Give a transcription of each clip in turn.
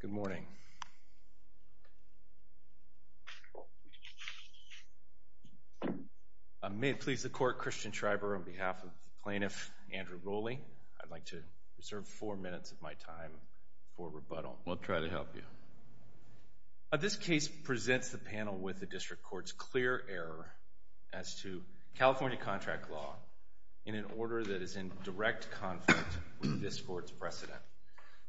Good morning. May it please the court, Christian Schreiber on behalf of plaintiff Andrew Roley, I'd like to reserve four minutes of my time for rebuttal. I'll try to help you. This case presents the panel with the District Court's clear error as to California contract law in an order that is in direct conflict with this court's precedent.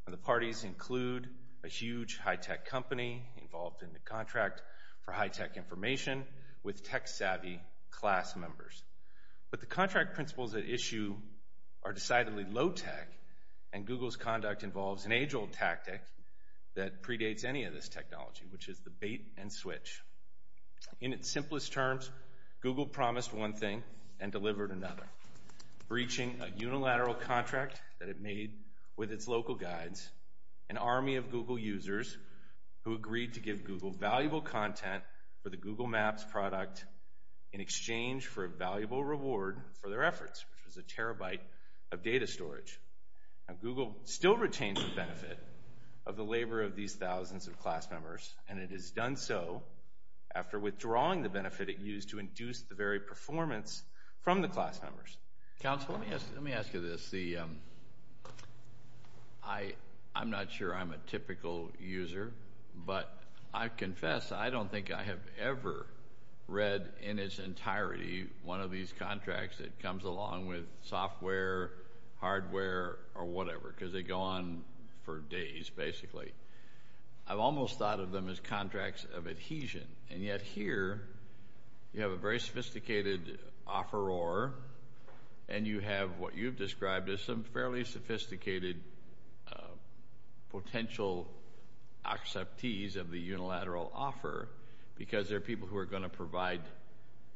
The parties include a huge high-tech company involved in the contract for high-tech information with tech-savvy class members. But the contract principles at issue are decidedly low-tech, and Google's conduct involves an age-old tactic that predates any of this technology, which is the bait-and-switch. In its simplest terms, Google promised one thing and delivered another, breaching a unilateral contract that it made with its local guides, an army of Google users who agreed to give Google valuable content for the Google Maps product in exchange for a valuable reward for their efforts, which was a terabyte of data storage. Now, Google still retains the benefit of the labor of these thousands of class members, and it has done so after withdrawing the benefit it used to class members. Counsel, let me ask you this. I'm not sure I'm a typical user, but I confess I don't think I have ever read in its entirety one of these contracts that comes along with software, hardware, or whatever, because they go on for days, basically. I've almost thought of them as contracts of adhesion. And yet here, you have a very sophisticated offeror, and you have what you've described as some fairly sophisticated potential acceptees of the unilateral offer, because they're people who are going to provide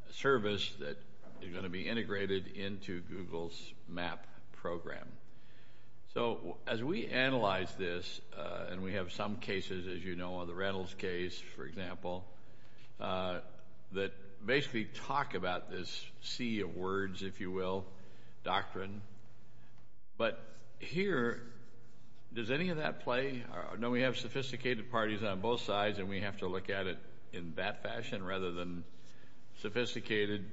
a service that is going to be integrated into Google's map program. So as we analyze this, and we have some cases, as you know, the Reynolds case, for example, that basically talk about this sea of words, if you will, doctrine. But here, does any of that play? No, we have sophisticated parties on both sides, and we have to look at it in that fashion rather than sophisticated,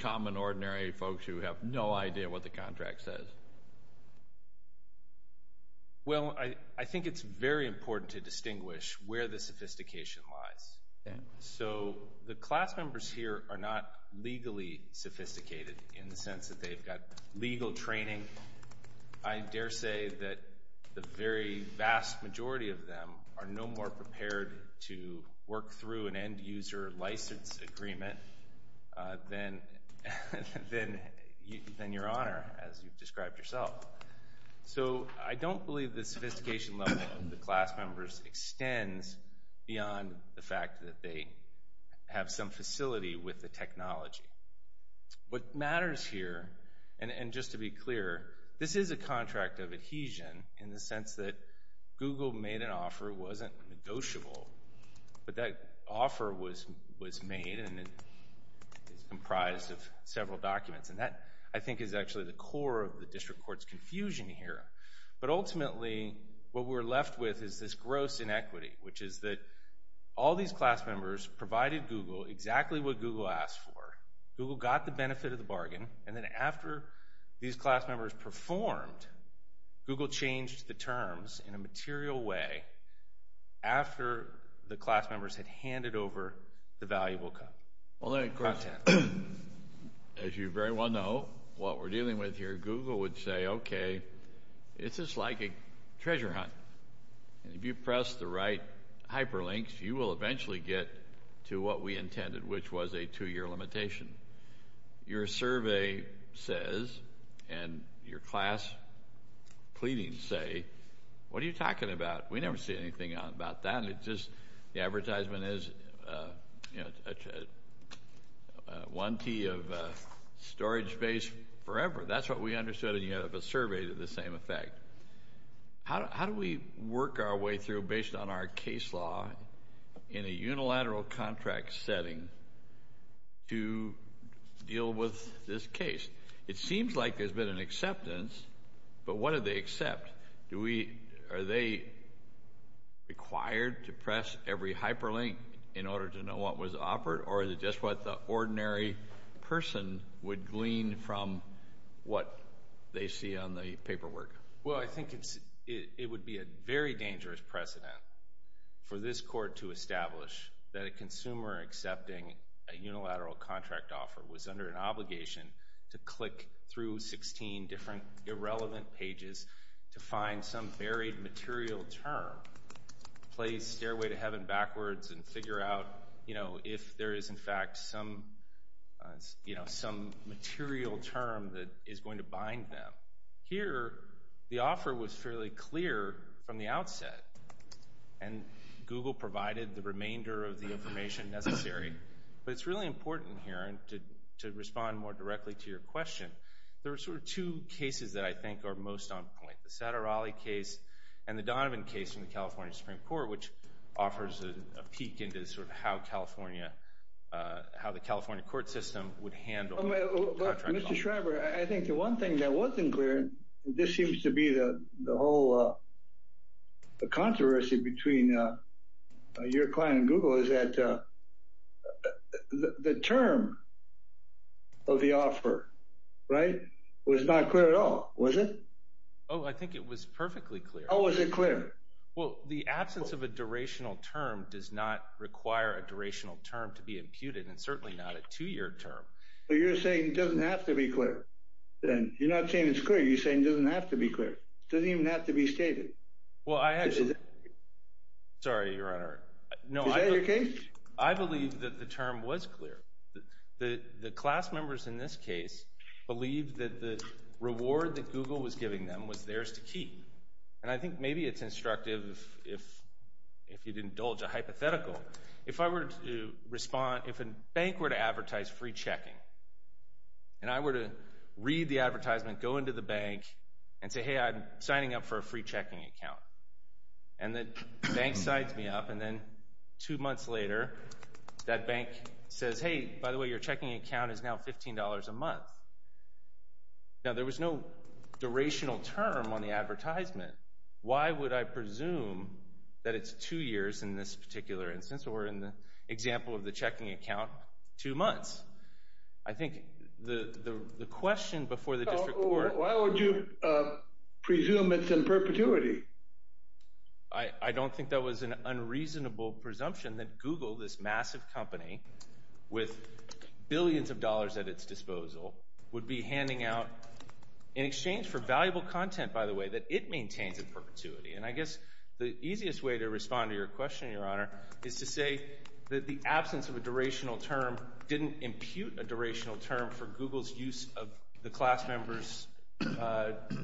common, ordinary folks who have no idea what the contract says. Well, I think it's very important to distinguish where the sophistication lies. So the class members here are not legally sophisticated in the sense that they've got legal training. I dare say that the very vast majority of them are no more prepared to work through an end-user license agreement than Your Honor, as you've described here. So, I don't believe the sophistication level of the class members extends beyond the fact that they have some facility with the technology. What matters here, and just to be clear, this is a contract of adhesion in the sense that Google made an offer that wasn't negotiable, but that offer was made, and it's comprised of several documents. And that, I think, is actually the core of the district court's confusion here. But ultimately, what we're left with is this gross inequity, which is that all these class members provided Google exactly what Google asked for. Google got the benefit of the bargain, and then after these class members performed, Google changed the terms in a material way after the class members had handed over the valuable content. Well, of course, as you very well know, what we're dealing with here, Google would say, okay, it's just like a treasure hunt. If you press the right hyperlinks, you will eventually get to what we intended, which was a two-year limitation. Your survey says, and your class pleadings say, what are you talking about? We never say anything about that. It's just the advertisement is 1T of storage space forever. That's what we understood, and you have a survey to the same effect. How do we work our way through based on our case law in a unilateral contract setting to deal with this case? It seems like there's been an acceptance, but what do they accept? Are they required to press every hyperlink in order to know what was offered, or is it just what the ordinary person would glean from what they see on the paperwork? Well, I think it would be a very dangerous precedent for this court to establish that a consumer accepting a unilateral contract offer was under an obligation to click through 16 different irrelevant pages to find some buried material term, play stairway to heaven backwards and figure out if there is, in fact, some material term that is going to bind them. Here, the offer was fairly clear from the outset, and Google provided the remainder of the information necessary, but it's really important here, and to respond more directly to your question, there are sort of two cases that I think are most on point, the Satteralli case and the Donovan case from the California Supreme Court, which offers a peek into sort of how California, how the California court system would handle a contract offer. Mr. Schreiber, I think the one thing that wasn't clear, this seems to be the whole controversy between your client and Google, is that the term of the offer, the term of the offer, was not clear at all, was it? Oh, I think it was perfectly clear. How was it clear? Well, the absence of a durational term does not require a durational term to be imputed, and certainly not a two-year term. So you're saying it doesn't have to be clear, then? You're not saying it's clear, you're saying it doesn't have to be clear. It doesn't even have to be stated. Well, I actually... Is that your case? Sorry, Your Honor. Is that your case? I believe that the term was clear. The class members in this case believed that the reward that Google was giving them was theirs to keep. And I think maybe it's instructive if you'd indulge a hypothetical. If I were to respond, if a bank were to advertise free checking, and I were to read the advertisement, go into the bank, and say, hey, I'm signing up for a free checking account. And the bank signs me up, and then two months later, that bank says, hey, by the way, your checking account is now $15 a month. Now, there was no durational term on the advertisement. Why would I presume that it's two years in this particular instance, or in the example of the checking account, two months? I think the question before the district court... Maintains in perpetuity. I don't think that was an unreasonable presumption that Google, this massive company with billions of dollars at its disposal, would be handing out, in exchange for valuable content, by the way, that it maintains in perpetuity. And I guess the easiest way to respond to your question, Your Honor, is to say that the absence of a durational term didn't impute a durational term for Google's use of the class member's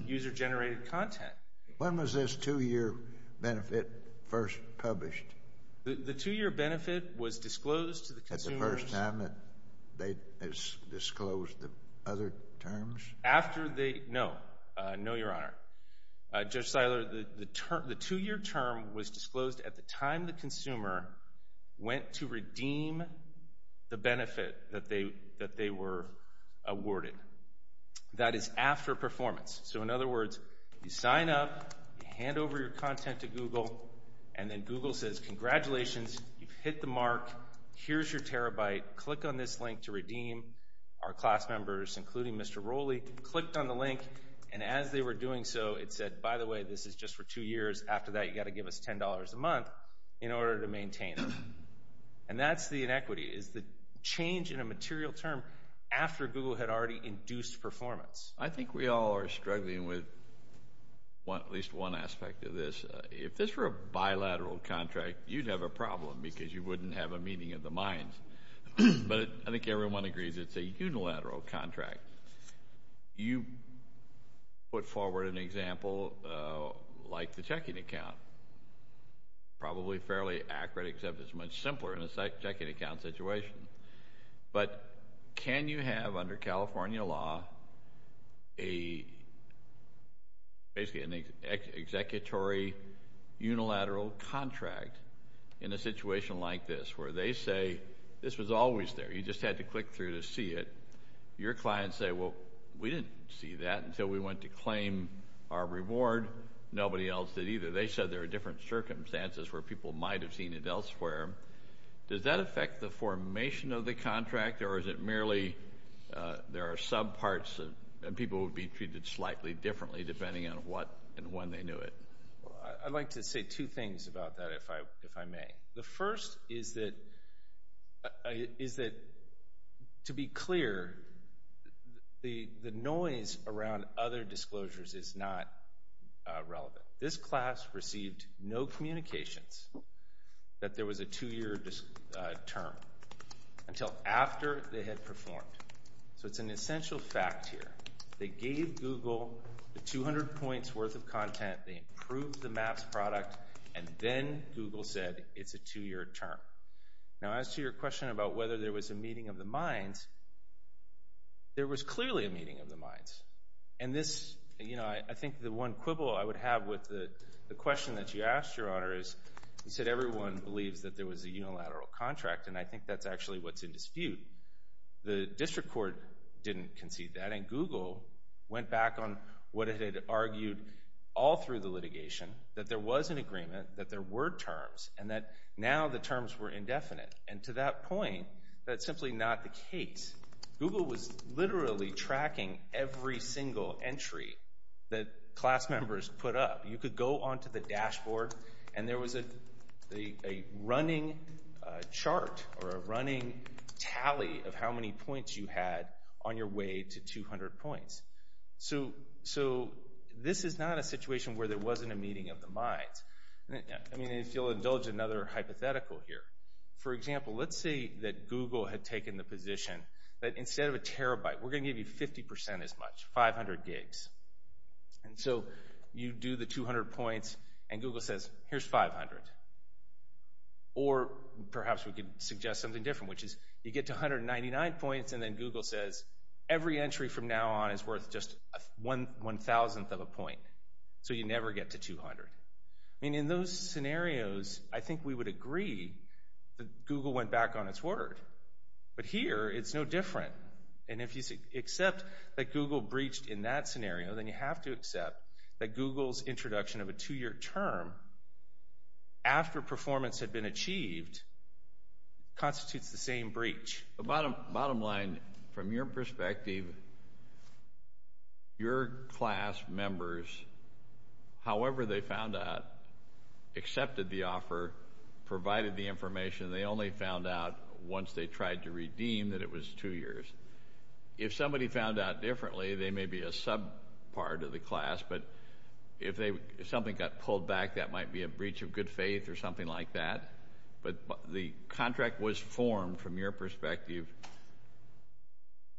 user-generated content. When was this two-year benefit first published? The two-year benefit was disclosed to the consumers... At the first time that they disclosed the other terms? After they... No. No, Your Honor. Judge Seiler, the two-year term was disclosed at the time the consumer went to redeem the benefit that they were awarded. That is after performance. So in other words, you sign up, you hand over your content to Google, and then Google says, congratulations, you've hit the mark, here's your terabyte, click on this link to redeem our class members, including Mr. Rowley, clicked on the link, and as they were doing so, it said, by the way, this is just for two years, after that you've got to give us $10 a month, in order to maintain it. And that's the inequity, is the change in a material term after Google had already induced performance. I think we all are struggling with at least one aspect of this. If this were a bilateral contract, you'd have a problem, because you wouldn't have a meeting of the minds. But I think everyone agrees it's a unilateral contract. You put forward an example like the checking account. Probably fairly accurate, except it's much simpler in a checking account situation. But can you have, under California law, basically an executory unilateral contract in a situation like this, where they say, this was always there, you just had to click through to see it. Your clients say, well, we didn't see that until we went to claim our reward. Nobody else did either. They said there are different circumstances where people might have seen it elsewhere. Does that affect the formation of the contract, or is it merely there are subparts, and people would be treated slightly differently, depending on what and when they knew it? Well, I'd like to say two things about that, if I may. The first is that, to be clear, the noise around other disclosures is not relevant. This class received no communications that there was a two-year term, until after they had performed. So it's an essential fact here. They gave Google the 200 points worth of content, they approved the MAPS product, and then Google said it's a two-year term. Now, as to your question about whether there was a meeting of the minds, there was clearly a meeting of the minds. And this, I think the one quibble I would have with the question that you asked, Your Honor, is you said everyone believes that there was a unilateral contract, and I think that's actually what's in dispute. The district court didn't concede that, and Google went back on what it had argued all through the litigation, that there was an agreement, that there were terms, and that now the terms were indefinite. And to that point, that's simply not the case. Google was literally tracking every single entry that class members put up. You could go onto the dashboard, and there was a running chart, or a running tally of how many points you had on your way to 200 points. So this is not a situation where there wasn't a meeting of the minds. I mean, if you'll indulge another hypothetical here. For example, let's say that Google had taken the position that instead of a terabyte, we're going to give you 50% as much, 500 gigs. And so you do the 200 points, and Google says, here's 500. Or perhaps we could suggest something different, which is you get to 199 points, and then Google says, every entry from now on is worth just 1,000th of a point. So you never get to 200. I mean, in those scenarios, I think we would agree that Google went back on its word. But here, it's no different. And if you accept that Google breached in that scenario, then you have to accept that Google's introduction of a two-year term after performance had been approved. From your perspective, your class members, however they found out, accepted the offer, provided the information, and they only found out once they tried to redeem that it was two years. If somebody found out differently, they may be a sub-part of the class, but if something got pulled back, that might be a breach of good faith or something like that. But the contract was formed, from your perspective,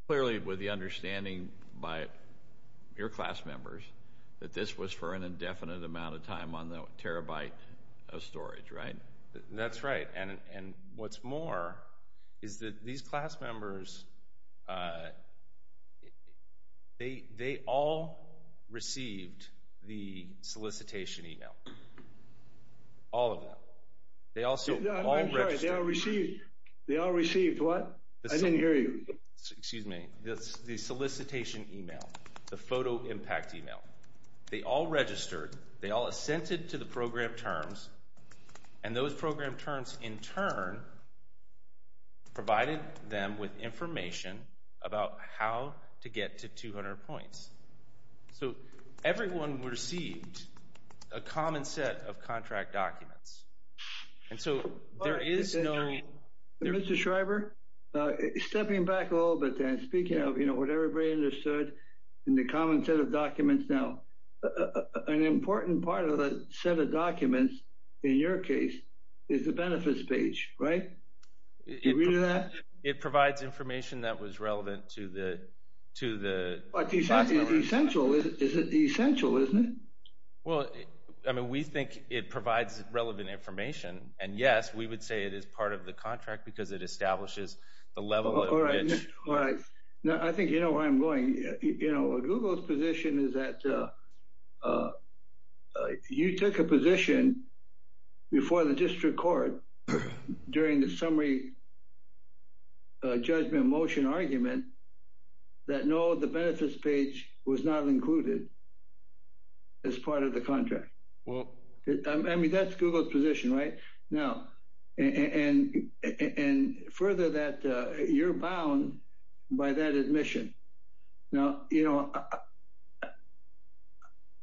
clearly with the understanding by your class members that this was for an indefinite amount of time on the terabyte of storage, right? That's right. And what's more is that these class members, they all received the solicitation email. All of them. They also all registered. I'm sorry, they all received what? I didn't hear you. Excuse me. The solicitation email, the photo impact email. They all registered, they all assented to the program terms, and those program terms, in turn, provided them with information about how to get to 200 points. So everyone received a common set of contract documents. And so there is no... Mr. Schreiber, stepping back a little bit then, speaking of what everybody understood in the common set of documents now, an important part of the set of documents, in your case, is the benefits page, right? Do you read that? It provides information that was relevant to the documents. It's essential, isn't it? Well, I mean, we think it provides relevant information, and yes, we would say it is part of the contract because it establishes the level of... All right. I think you know where I'm going. Google's position is that you took a position before the district court during the summary judgment motion argument that no, the benefits page was not included as part of the contract. Well... I mean, that's Google's position, right? And further that, you're bound by that admission. Now, you know,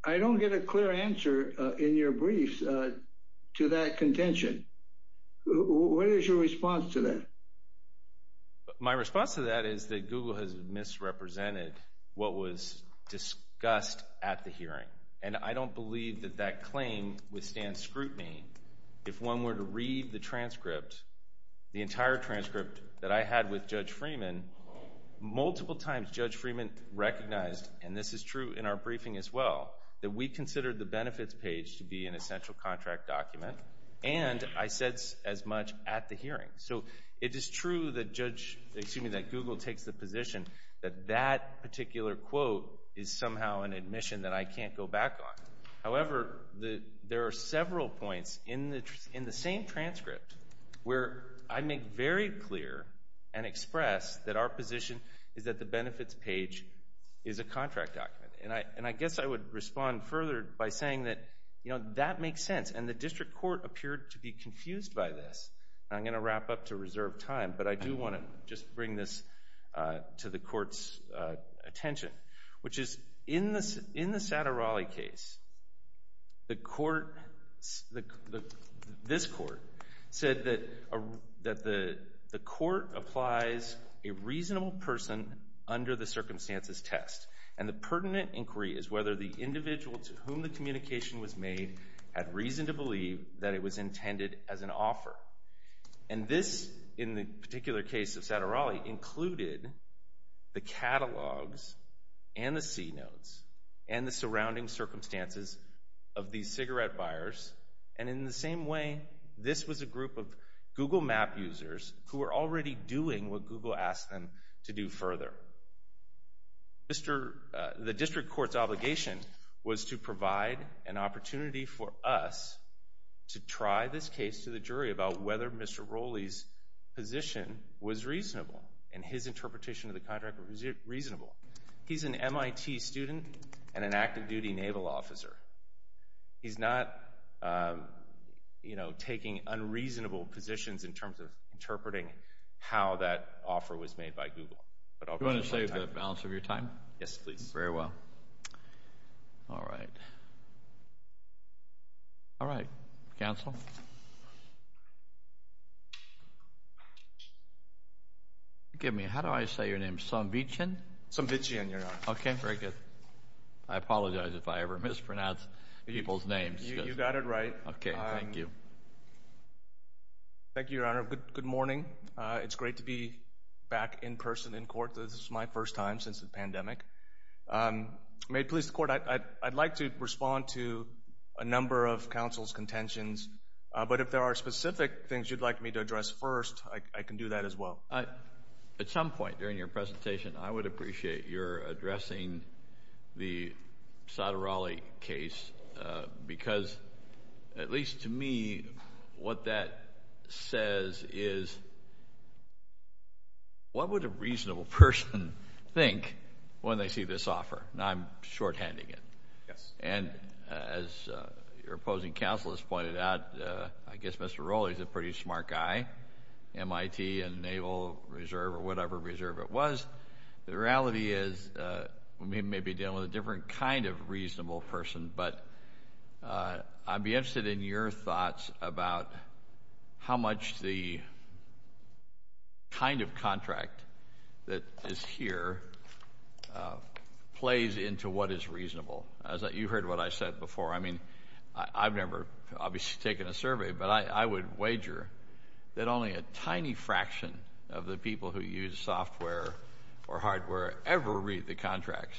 I don't get a clear answer in your brief to that contention. What is your response to that? My response to that is that Google has misrepresented what was discussed at the hearing, and I don't believe that that claim withstands scrutiny. If one were to read the transcript, the entire transcript that I had with Judge Freeman, multiple times Judge Freeman recognized, and this is true in our briefing as well, that we considered the benefits page to be an essential contract document, and I said as much at the hearing. So it is true that Google takes the position that that particular quote is somehow an admission that I can't go back on. However, there are several points in the same transcript where I make very clear and express that our position is that the benefits page is a contract document, and I guess I would respond further by saying that, you know, that makes sense, and the district court appeared to be confused by this, and I'm going to wrap up to reserve time, but I do want to just bring this to the court's attention, which is in the Satirale case, the court, this court, said that the court applies a reasonable person under the circumstances test, and the pertinent inquiry is whether the individual to whom the communication was made had reason to believe that it was intended as an offer, and this, in the particular case of Satirale, included the catalogs and the C-notes and the surrounding circumstances of these cigarette buyers, and in the same way, this was a group of Google asked them to do further. The district court's obligation was to provide an opportunity for us to try this case to the jury about whether Mr. Rowley's position was reasonable, and his interpretation of the contract was reasonable. He's an MIT student and an active duty naval officer. He's not, you know, taking unreasonable positions in terms of interpreting how that offer was made by Google, but I'll go ahead and save the balance of your time. Yes, please. Very well. All right. All right, counsel. Forgive me, how do I say your name? Somvichian? Somvichian, Your Honor. Okay, very good. I apologize if I ever mispronounce people's names. You got it right. Okay, thank you. Thank you, Your Honor. Good morning. It's great to be back in person in court. This is my first time since the pandemic. May it please the court, I'd like to respond to a number of counsel's contentions, but if there are specific things you'd like me to address first, I can do that as well. At some point during your presentation, I would appreciate your addressing the Satirale case, because at least to me, what that says is, what would a reasonable person think when they see this offer? Now, I'm shorthanding it. Yes. And as your opposing counsel has pointed out, I guess Mr. Rowley's a pretty smart guy, MIT and Naval Reserve or whatever reserve it was. The reality is, we may be dealing with a different kind of reasonable person, but I'd be interested in your thoughts about how much the kind of contract that is here plays into what is reasonable. You heard what I said before. I mean, I've never obviously taken a survey, but I would wager that only a tiny fraction of the people who use software or hardware ever read the contracts.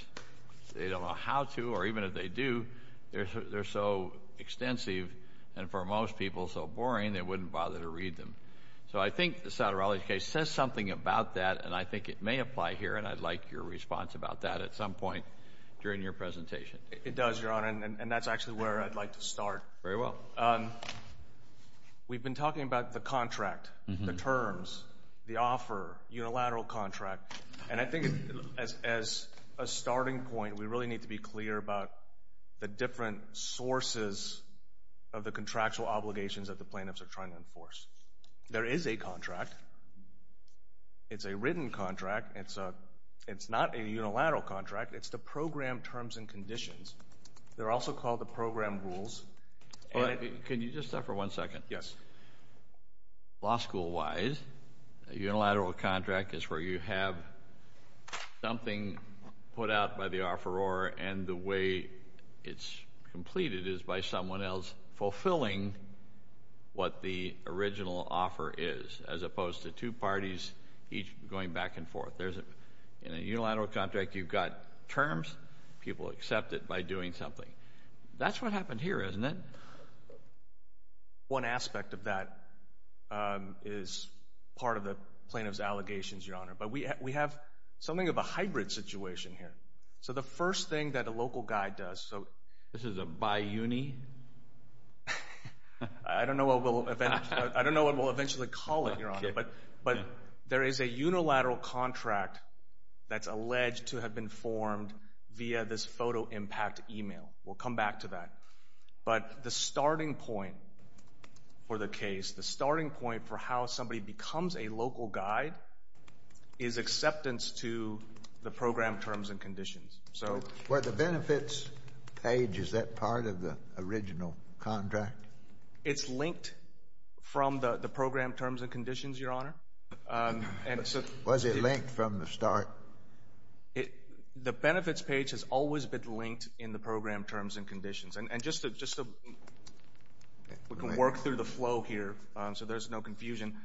They don't know how to, or even if they do, they're so extensive and for most people so boring they wouldn't bother to read them. So I think the Satirale case says something about that, and I think it may apply here, and I'd like your response about that at some point during your presentation. It does, Your Honor, and that's actually where I'd like to start. Very well. We've been talking about the contract, the terms, the offer, unilateral contract, and I think as a starting point, we really need to be clear about the different sources of the contractual obligations that the plaintiffs are trying to enforce. There is a contract. It's a written contract. It's not a unilateral contract. It's the program terms and conditions. They're also called the program rules. Can you just stop for one second? Yes. Law school-wise, a unilateral contract is where you have something put out by the offeror, and the way it's completed is by someone else fulfilling what the original offer is, as opposed to two parties each going back and forth. In a unilateral contract, you've got terms. People accept it by doing something. That's what happened here, isn't it? One aspect of that is part of the plaintiff's allegations, Your Honor, but we have something of a hybrid situation here. So the first thing that a local guide does, so... This is a bi-uni? I don't know what we'll eventually call it, Your Honor, but there is a unilateral contract that's alleged to have been formed via this photo impact email. We'll come back to that. But the starting point for the case, the starting point for how somebody becomes a local guide is acceptance to the program terms and conditions. So... Where the benefits page, is that part of the original contract? It's linked from the program terms and conditions, Your Honor. Was it linked from the start? The benefits page has always been linked in the program terms and conditions. And just to work through the flow here so there's no confusion,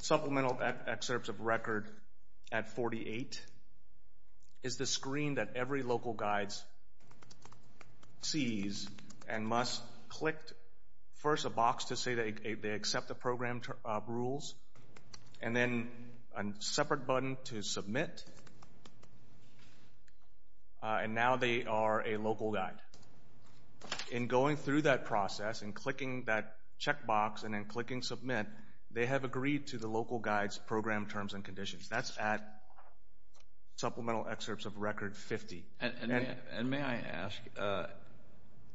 supplemental excerpts of record at 48 is the screen that every local guide sees and must click first a box to say they accept the program rules, and then a separate button to submit, and now they are a local guide. In going through that process, in clicking that check box and then clicking submit, they have agreed to the local guide's program terms and conditions. That's at supplemental excerpts of record 50. And may I ask,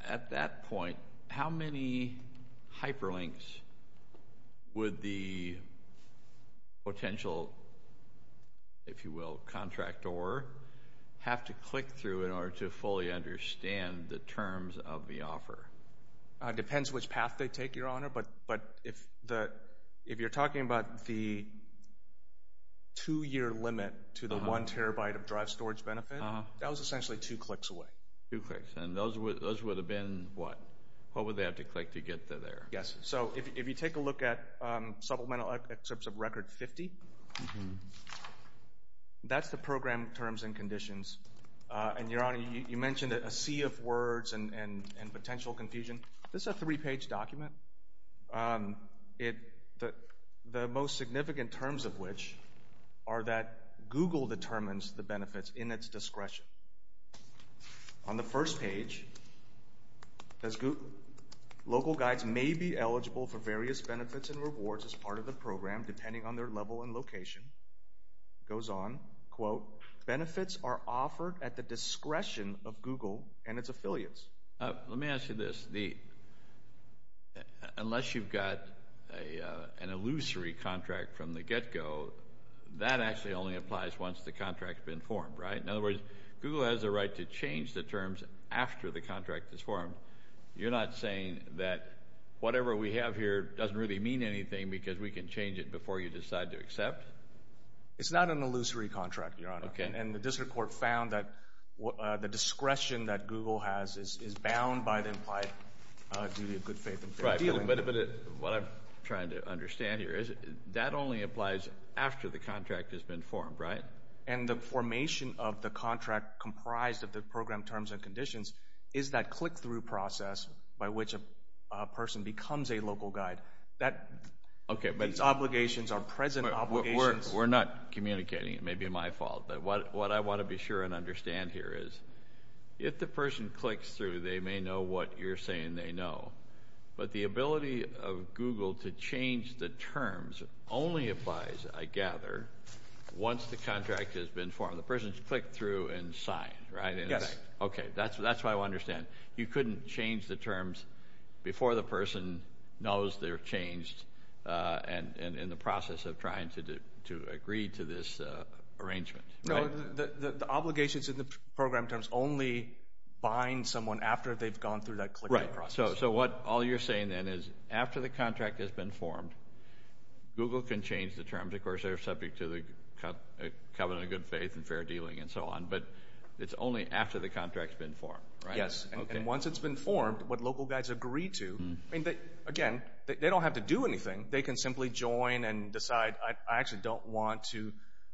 at that point, how many hyperlinks would the potential, if you will, contractor have to click through in order to fully understand the terms of the offer? It depends which path they take, Your Honor, but if you're talking about the two-year limit to the one terabyte of drive storage benefit, that was essentially two clicks away. Two clicks. And those would have been what? What would they have to click to get there? Yes. So if you take a look at supplemental excerpts of record 50, that's the program terms and conditions. And Your Honor, you mentioned a sea of words and potential confusion. This is a three-page document. The most significant terms of which are that Google determines the benefits in its discretion. On the first page, local guides may be eligible for various benefits and rewards as part of the program depending on their level and location. It goes on, quote, benefits are offered at the discretion of Google and its affiliates. Let me ask you this. Unless you've got an illusory contract from the get-go, that actually only applies once the contract's been formed, right? In other words, Google has a right to change the terms after the contract is formed. You're not saying that whatever we have here doesn't really mean anything because we can change it before you decide to accept? It's not an illusory contract, Your Honor. Okay. And the district court found that the discretion that Google has is bound by the implied duty of good faith and fair dealing. Right. But what I'm trying to understand here is that only applies after the contract has been formed, right? And the formation of the contract comprised of the program terms and conditions is that click-through process by which a person becomes a local guide. Okay. These obligations are present obligations. We're not communicating. It may be my fault. But what I want to be sure and understand here is if the person clicks through, they may know what you're saying they know. But the ability of Google to change the terms only applies, I gather, once the contract has been formed. The person has clicked through and signed, right? Yes. Okay. That's what I understand. You couldn't change the terms before the person knows they're changed and in the process of trying to agree to this arrangement. No. The obligations in the program terms only bind someone after they've gone through that click-through process. Right. So what all you're saying then is after the contract has been formed, Google can change the terms. Of course, they're subject to the covenant of good faith and fair dealing and so on. But it's only after the contract has been formed, right? Yes. Okay. And once it's been formed, what local guides agree to, I mean, again, they don't have to do anything. They can simply join and decide, I actually don't want to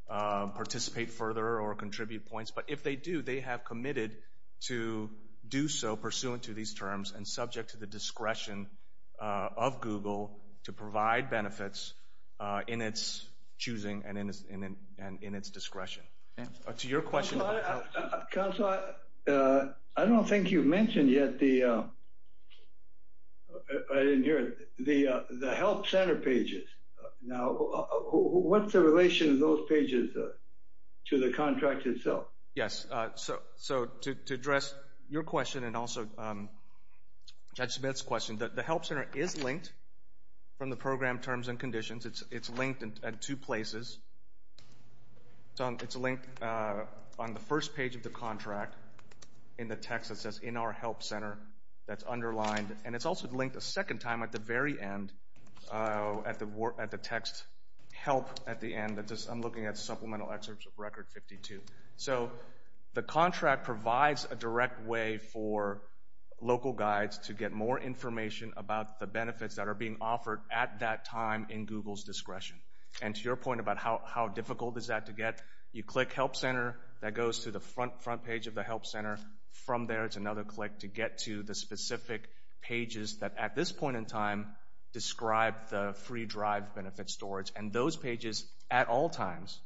participate further or contribute points. But if they do, they have committed to do so pursuant to these terms and subject to the discretion of Google to provide benefits in its choosing and in its discretion. To your question... Counselor, I don't think you mentioned yet the... I didn't hear it. The help center pages. Now, what's the relation of those pages to the contract itself? Yes. So to address your question and also Judge Smith's question, the help center is linked from the program terms and conditions. It's linked at two places. It's linked on the first page of the contract in the text that says in our help center that's underlined. And it's also linked a second time at the very end, at the text help at the end. I'm looking at supplemental excerpts of record 52. So the contract provides a direct way for local guides to get more information about the benefits that are being offered at that time in Google's discretion. And to your point about how difficult is that to get, you click help center. That goes to the front page of the help center. From there, it's another click to get to the specific pages that at this point in time describe the free drive benefit storage. And those pages at all times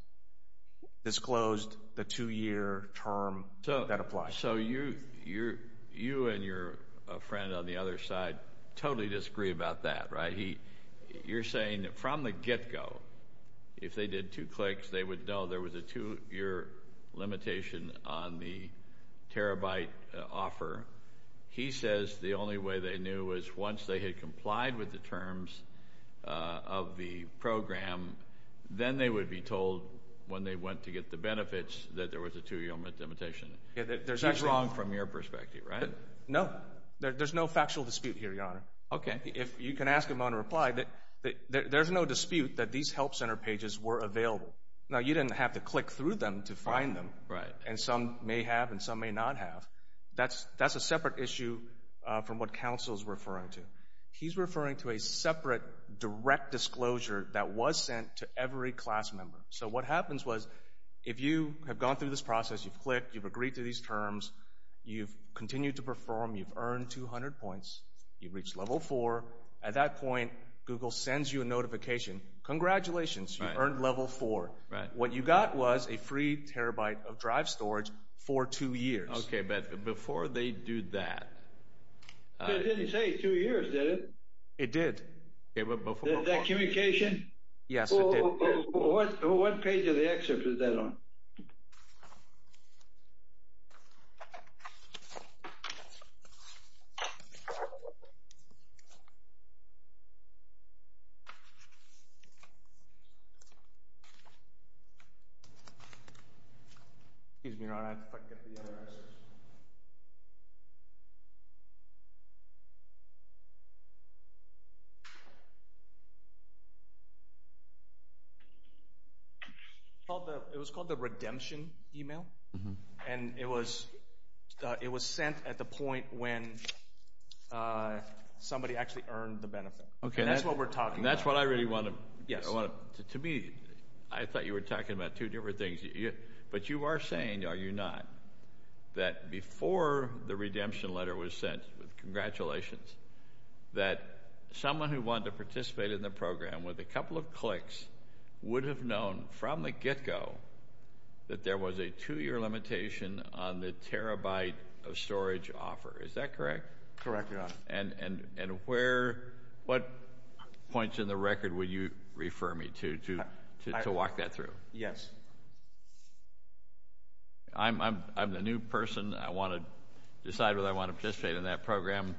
disclosed the two-year term that applies. So you and your friend on the other side totally disagree about that. You're saying from the get-go, if they did two clicks, they would know there was a two-year limitation on the terabyte offer. He says the only way they knew was once they had complied with the terms of the program, then they would be told when they went to get the benefits that there was a two-year limitation. That's wrong from your perspective, right? No. There's no factual dispute here, Your Honor. Okay. If you can ask him on a reply, there's no dispute that these help center pages were available. Now, you didn't have to click through them to find them. Right. And some may have and some may not have. That's a separate issue from what counsel is referring to. He's referring to a separate direct disclosure that was sent to every class member. So what happens was if you have gone through this process, you've clicked, you've agreed to these terms, you've continued to perform, you've earned 200 points, you've reached level four. At that point, Google sends you a notification, congratulations, you've earned level four. What you got was a free terabyte of drive storage for two years. Okay, but before they do that... It didn't say two years, did it? It did. Okay, but before... Did that communication? Yes, it did. What page of the excerpt is that on? Excuse me, Your Honor, if I could get the other excerpt. It was called the redemption email, and it was sent at the point when somebody actually earned the benefit. And that's what we're talking about. That's what I really want to... To me, I thought you were talking about two different things, but you are saying, are you not, that before the redemption letter was sent, congratulations, that someone who wanted to participate in the program with a couple of clicks would have known from the get-go that there was a two-year limitation on the terabyte of storage offer. Is that correct? Correct, Your Honor. And what points in the record would you refer me to, to walk that through? Yes. I'm the new person. I want to decide whether I want to participate in that program.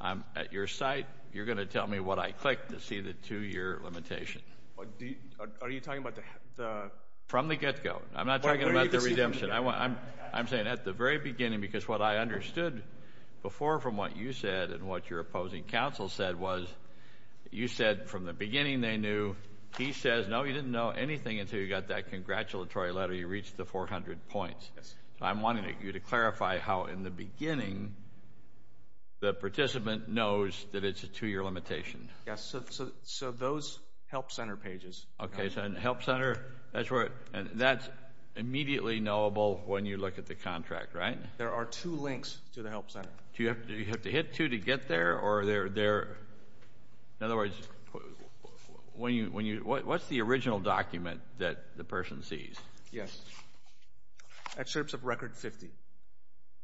I'm at your site. You're going to tell me what I click to see the two-year limitation. Are you talking about the... From the get-go. I'm not talking about the redemption. I'm saying at the very beginning, because what I understood before from what you said and what your opposing counsel said was, you said from the beginning they knew. He says, no, you didn't know anything until you got that congratulatory letter. You reached the 400 points. I'm wanting you to clarify how in the beginning the participant knows that it's a two-year limitation. Yes, so those help center pages. Okay, so help center, that's immediately knowable when you look at the contract, right? There are two links to the help center. Do you have to hit two to get there, or are there... In other words, what's the original document that the person sees? Yes. In terms of record 50.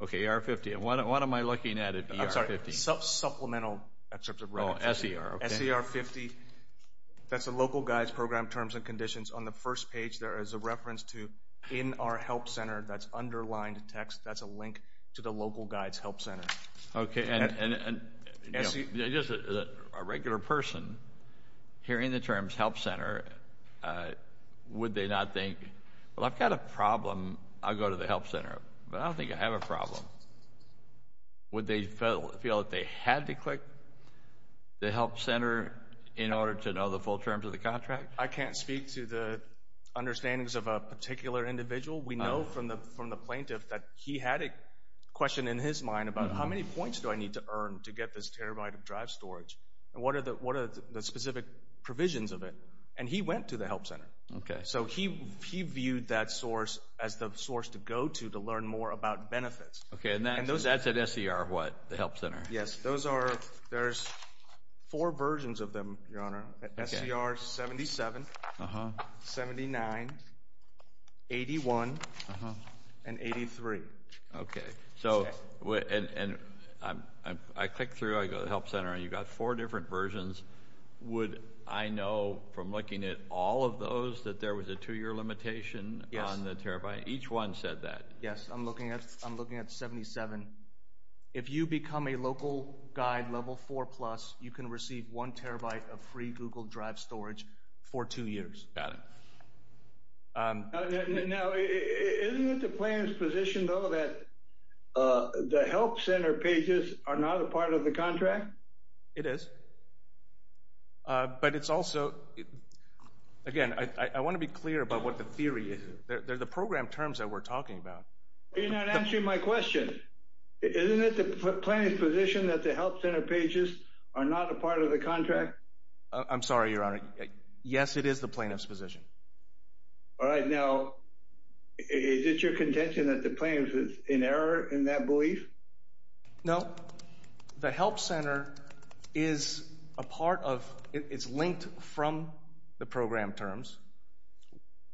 Okay, ER 50. And what am I looking at at ER 50? I'm sorry, supplemental in terms of record 50. Oh, SER, okay. SER 50, that's the local guides program terms and conditions. On the first page there is a reference to in our help center. That's underlined text. That's a link to the local guides help center. Okay, and just a regular person hearing the terms help center, would they not think, well, I've got a problem. I'll go to the help center, but I don't think I have a problem. Would they feel that they had to click the help center in order to know the full terms of the contract? I can't speak to the understandings of a particular individual. We know from the plaintiff that he had a question in his mind about how many points do I need to earn to get this terabyte of drive storage, and what are the specific provisions of it, and he went to the help center. So he viewed that source as the source to go to to learn more about benefits. Okay, and that's at SER what, the help center? Yes, there's four versions of them, your honor. SER 77, 79, 81, and 83. Okay, so I click through, I go to the help center, and you've got four different versions. Would I know from looking at all of those that there was a two-year limitation on the terabyte? Yes. Each one said that. Yes, I'm looking at 77. If you become a local guide level 4+, you can receive one terabyte of free Google Drive storage for two years. Got it. Now, isn't it the plaintiff's position, though, that the help center pages are not a part of the contract? It is. But it's also, again, I want to be clear about what the theory is. They're the program terms that we're talking about. You're not answering my question. Isn't it the plaintiff's position that the help center pages are not a part of the contract? I'm sorry, your honor. Yes, it is the plaintiff's position. All right, now, is it your contention that the plaintiff is in error in that belief? No. The help center is a part of, it's linked from the program terms.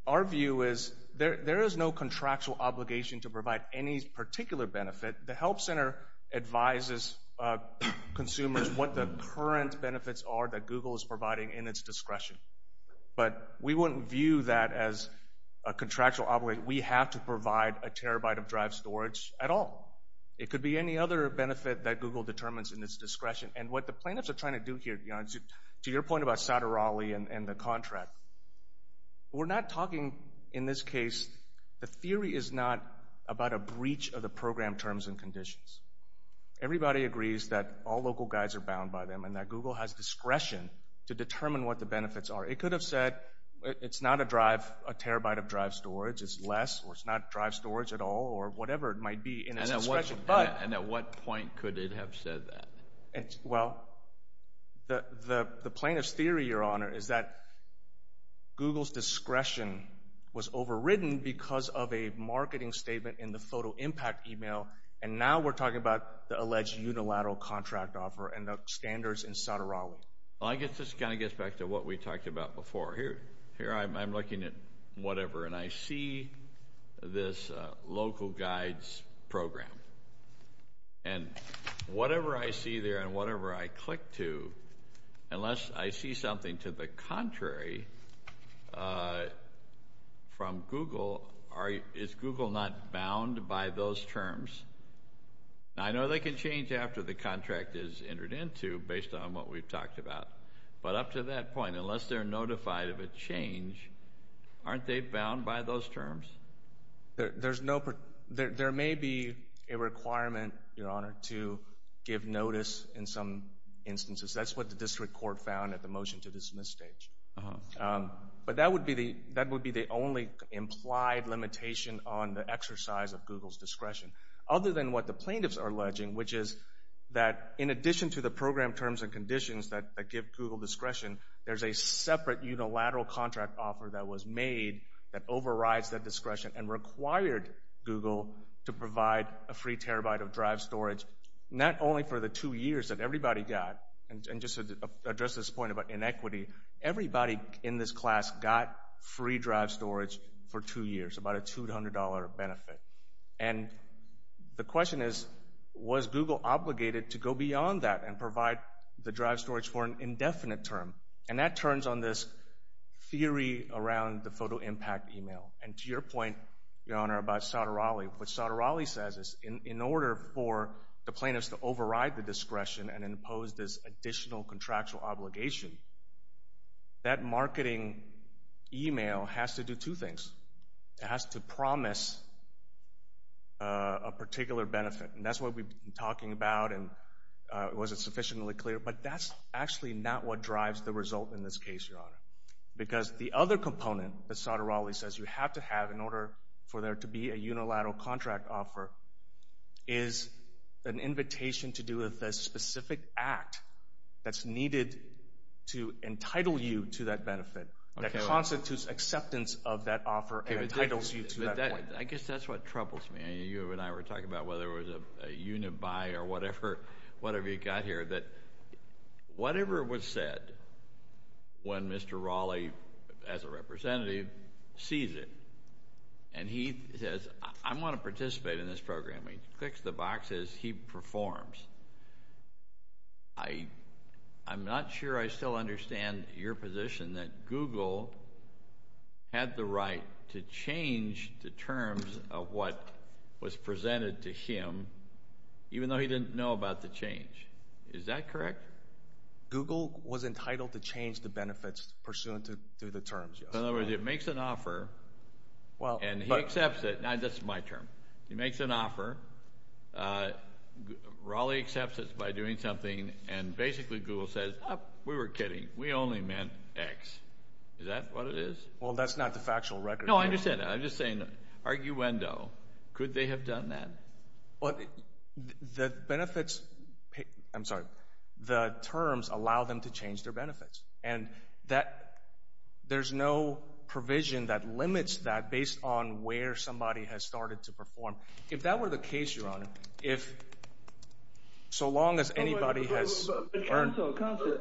Our view is there is no contractual obligation to provide any particular benefit. The help center advises consumers what the current benefits are that Google is providing in its discretion. But we wouldn't view that as a contractual obligation. We have to provide a terabyte of drive storage at all. It could be any other benefit that Google determines in its discretion. And what the plaintiffs are trying to do here, to your point about Saturali and the contract, we're not talking in this case, the theory is not about a breach of the program terms and conditions. Everybody agrees that all local guides are bound by them and that Google has discretion to determine what the benefits are. It could have said it's not a drive, a terabyte of drive storage. It's less or it's not drive storage at all or whatever it might be in its discretion. And at what point could it have said that? Well, the plaintiff's theory, your honor, is that Google's discretion was overridden because of a marketing statement in the photo impact email, and now we're talking about the alleged unilateral contract offer and the standards in Saturali. Well, I guess this kind of gets back to what we talked about before. Here I'm looking at whatever, and I see this local guides program. And whatever I see there and whatever I click to, unless I see something to the contrary from Google, is Google not bound by those terms? I know they can change after the contract is entered into based on what we've talked about. But up to that point, unless they're notified of a change, aren't they bound by those terms? There may be a requirement, your honor, to give notice in some instances. That's what the district court found at the motion to dismiss stage. But that would be the only implied limitation on the exercise of Google's discretion, other than what the plaintiffs are alleging, which is that in addition to the program terms and conditions that give Google discretion, there's a separate unilateral contract offer that was made that overrides that discretion and required Google to provide a free terabyte of drive storage, not only for the two years that everybody got, and just to address this point about inequity, everybody in this class got free drive storage for two years, about a $200 benefit. And the question is, was Google obligated to go beyond that and provide the drive storage for an indefinite term? And that turns on this theory around the photo impact email. And to your point, your honor, about Sotorolli, what Sotorolli says is, in order for the plaintiffs to override the discretion and impose this additional contractual obligation, that marketing email has to do two things. It has to promise a particular benefit. And that's what we've been talking about, and was it sufficiently clear? But that's actually not what drives the result in this case, your honor, because the other component that Sotorolli says you have to have in order for there to be a unilateral contract offer is an invitation to do a specific act that's needed to entitle you to that benefit that constitutes acceptance of that offer and entitles you to that point. I guess that's what troubles me. You and I were talking about whether it was a unibuy or whatever, whatever you got here, that whatever was said, when Mr. Raleigh, as a representative, sees it, and he says, I want to participate in this program. He clicks the boxes, he performs. I'm not sure I still understand your position that Google had the right to change the terms of what was presented to him, even though he didn't know about the change. Is that correct? Google was entitled to change the benefits pursuant to the terms, yes. In other words, it makes an offer, and he accepts it. That's my term. He makes an offer. Raleigh accepts it by doing something, and basically Google says, we were kidding. We only meant X. Is that what it is? Well, that's not the factual record. No, I understand that. I'm just saying, arguendo. Could they have done that? The benefits, I'm sorry, the terms allow them to change their benefits, and there's no provision that limits that based on where somebody has started to perform. If that were the case, Your Honor, if so long as anybody has earned— Counselor,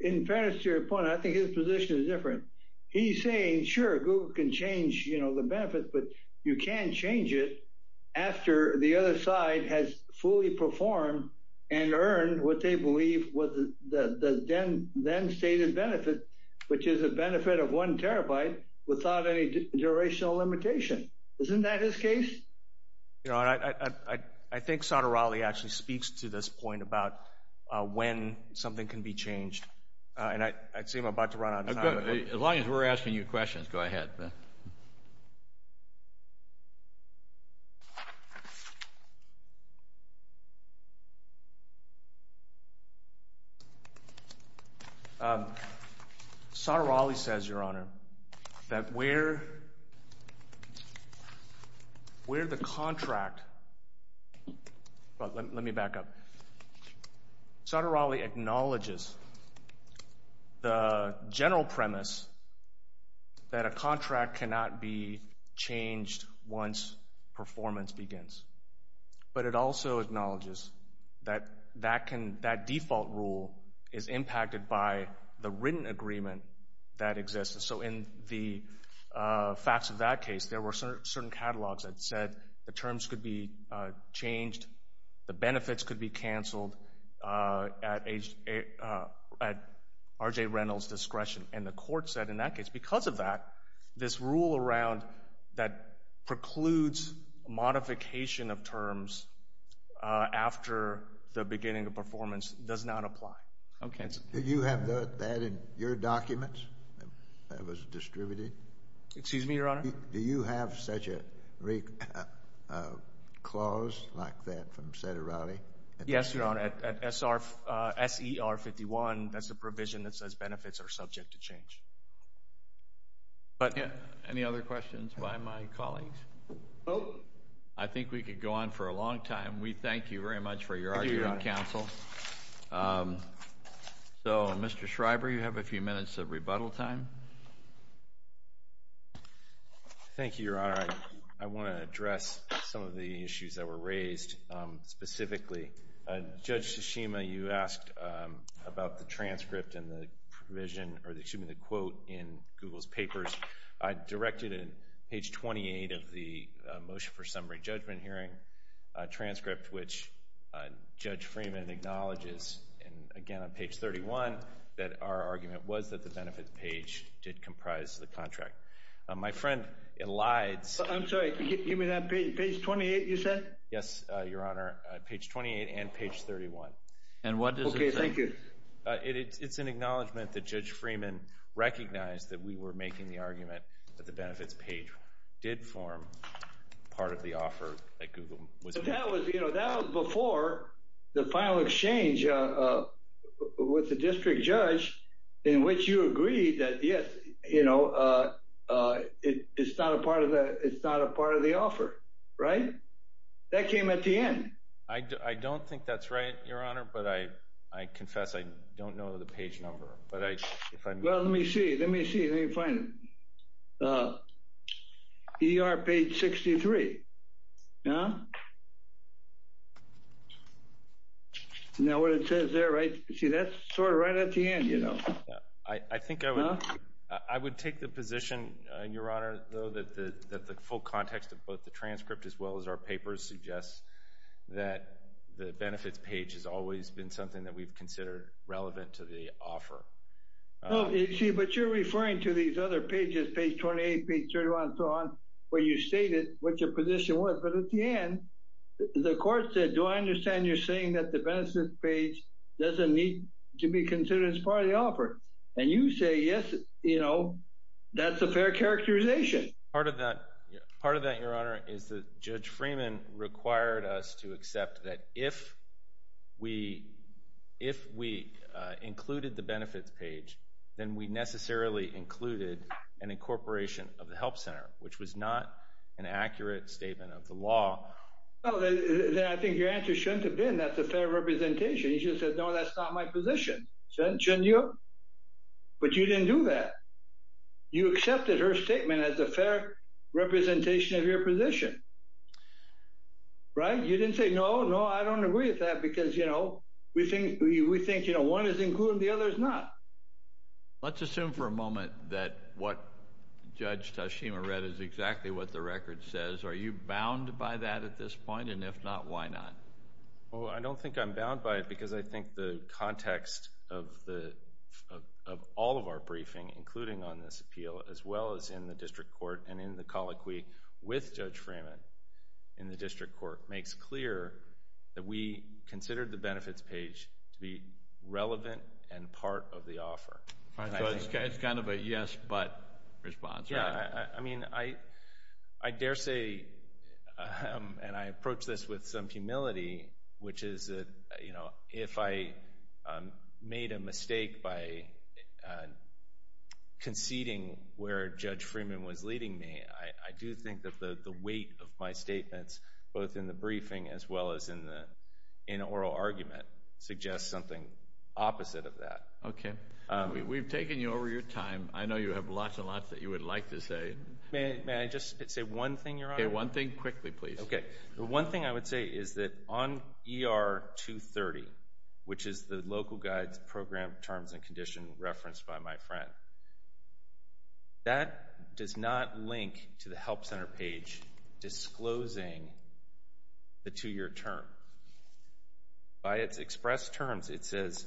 in fairness to your point, I think his position is different. He's saying, sure, Google can change the benefits, but you can't change it after the other side has fully performed and earned what they believe was the then-stated benefit, which is a benefit of one terabyte without any durational limitation. Isn't that his case? Your Honor, I think Sotomayor actually speaks to this point about when something can be changed, and I'd say I'm about to run out of time. As long as we're asking you questions, go ahead. Go ahead, Ben. Sotomayor says, Your Honor, that where the contract—let me back up. Sotomayor acknowledges the general premise that a contract cannot be changed once performance begins, but it also acknowledges that that default rule is impacted by the written agreement that exists. So in the facts of that case, there were certain catalogs that said the terms could be changed, the benefits could be canceled at R.J. Reynolds' discretion, and the court said in that case because of that, this rule around that precludes modification of terms after the beginning of performance does not apply. Do you have that in your documents that was distributed? Excuse me, Your Honor? Do you have such a clause like that from Sotomayor? Yes, Your Honor. At S.E.R. 51, that's the provision that says benefits are subject to change. Any other questions by my colleagues? I think we could go on for a long time. We thank you very much for your argument, counsel. So, Mr. Schreiber, you have a few minutes of rebuttal time. Thank you, Your Honor. I want to address some of the issues that were raised specifically. Judge Tsushima, you asked about the transcript and the provision, or excuse me, the quote in Google's papers. Directed in page 28 of the motion for summary judgment hearing transcript, which Judge Freeman acknowledges, and again on page 31, that our argument was that the benefits page did comprise the contract. My friend, it lied. I'm sorry. Give me that page. Page 28, you said? Yes, Your Honor. Page 28 and page 31. And what does it say? Okay, thank you. It's an acknowledgment that Judge Freeman recognized that we were making the argument that the benefits page did form part of the offer that Google was making. That was before the final exchange with the district judge, in which you agreed that, yes, it's not a part of the offer, right? That came at the end. I don't think that's right, Your Honor, but I confess I don't know the page number. Well, let me see. Let me see. Let me find it. ER page 63. No? Now what it says there, right? See, that's sort of right at the end, you know. I think I would take the position, Your Honor, though, that the full context of both the transcript as well as our papers suggests that the benefits page has always been something that we've considered relevant to the offer. See, but you're referring to these other pages, page 28, page 31, and so on, where you stated what your position was. But at the end, the court said, do I understand you're saying that the benefits page doesn't need to be considered as part of the offer? And you say, yes, you know, that's a fair characterization. Part of that, Your Honor, is that Judge Freeman required us to accept that if we included the benefits page, then we necessarily included an incorporation of the help center, which was not an accurate statement of the law. Then I think your answer shouldn't have been that's a fair representation. You should have said, no, that's not my position. Shouldn't you? But you didn't do that. You accepted her statement as a fair representation of your position. Right? You didn't say, no, no, I don't agree with that because, you know, we think one is included and the other is not. Let's assume for a moment that what Judge Tashima read is exactly what the record says. Are you bound by that at this point? And if not, why not? Well, I don't think I'm bound by it because I think the context of all of our briefing, including on this appeal, as well as in the district court and in the colloquy with Judge Freeman in the district court, makes clear that we considered the benefits page to be relevant and part of the offer. So it's kind of a yes, but response, right? I mean, I dare say, and I approach this with some humility, which is that if I made a mistake by conceding where Judge Freeman was leading me, I do think that the weight of my statements, both in the briefing as well as in oral argument, suggests something opposite of that. Okay. We've taken you over your time. I know you have lots and lots that you would like to say. May I just say one thing, Your Honor? Okay. One thing quickly, please. Okay. The one thing I would say is that on ER 230, which is the local guides program terms and condition referenced by my friend, that does not link to the Help Center page disclosing the two-year term. By its express terms, it says,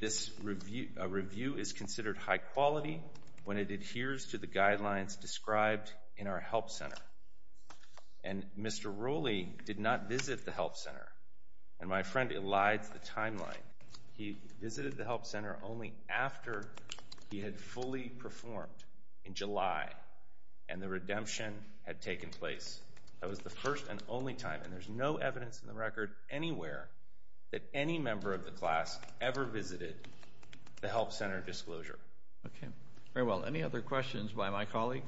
this review is considered high quality when it adheres to the guidelines described in our Help Center. And Mr. Rooley did not visit the Help Center. And my friend elides the timeline. He visited the Help Center only after he had fully performed in July and the redemption had taken place. That was the first and only time, and there's no evidence in the record anywhere that any member of the class ever visited the Help Center disclosure. Okay. Very well. Any other questions by my colleague?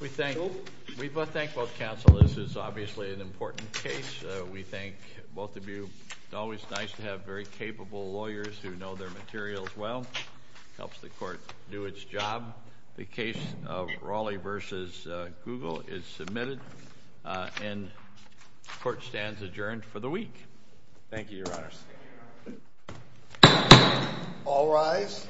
We thank both counsel. This is obviously an important case. We thank both of you. It's always nice to have very capable lawyers who know their materials well. Helps the court do its job. The case of Raleigh v. Google is submitted. And the court stands adjourned for the week. Thank you, Your Honor. Thank you, Your Honor. All rise.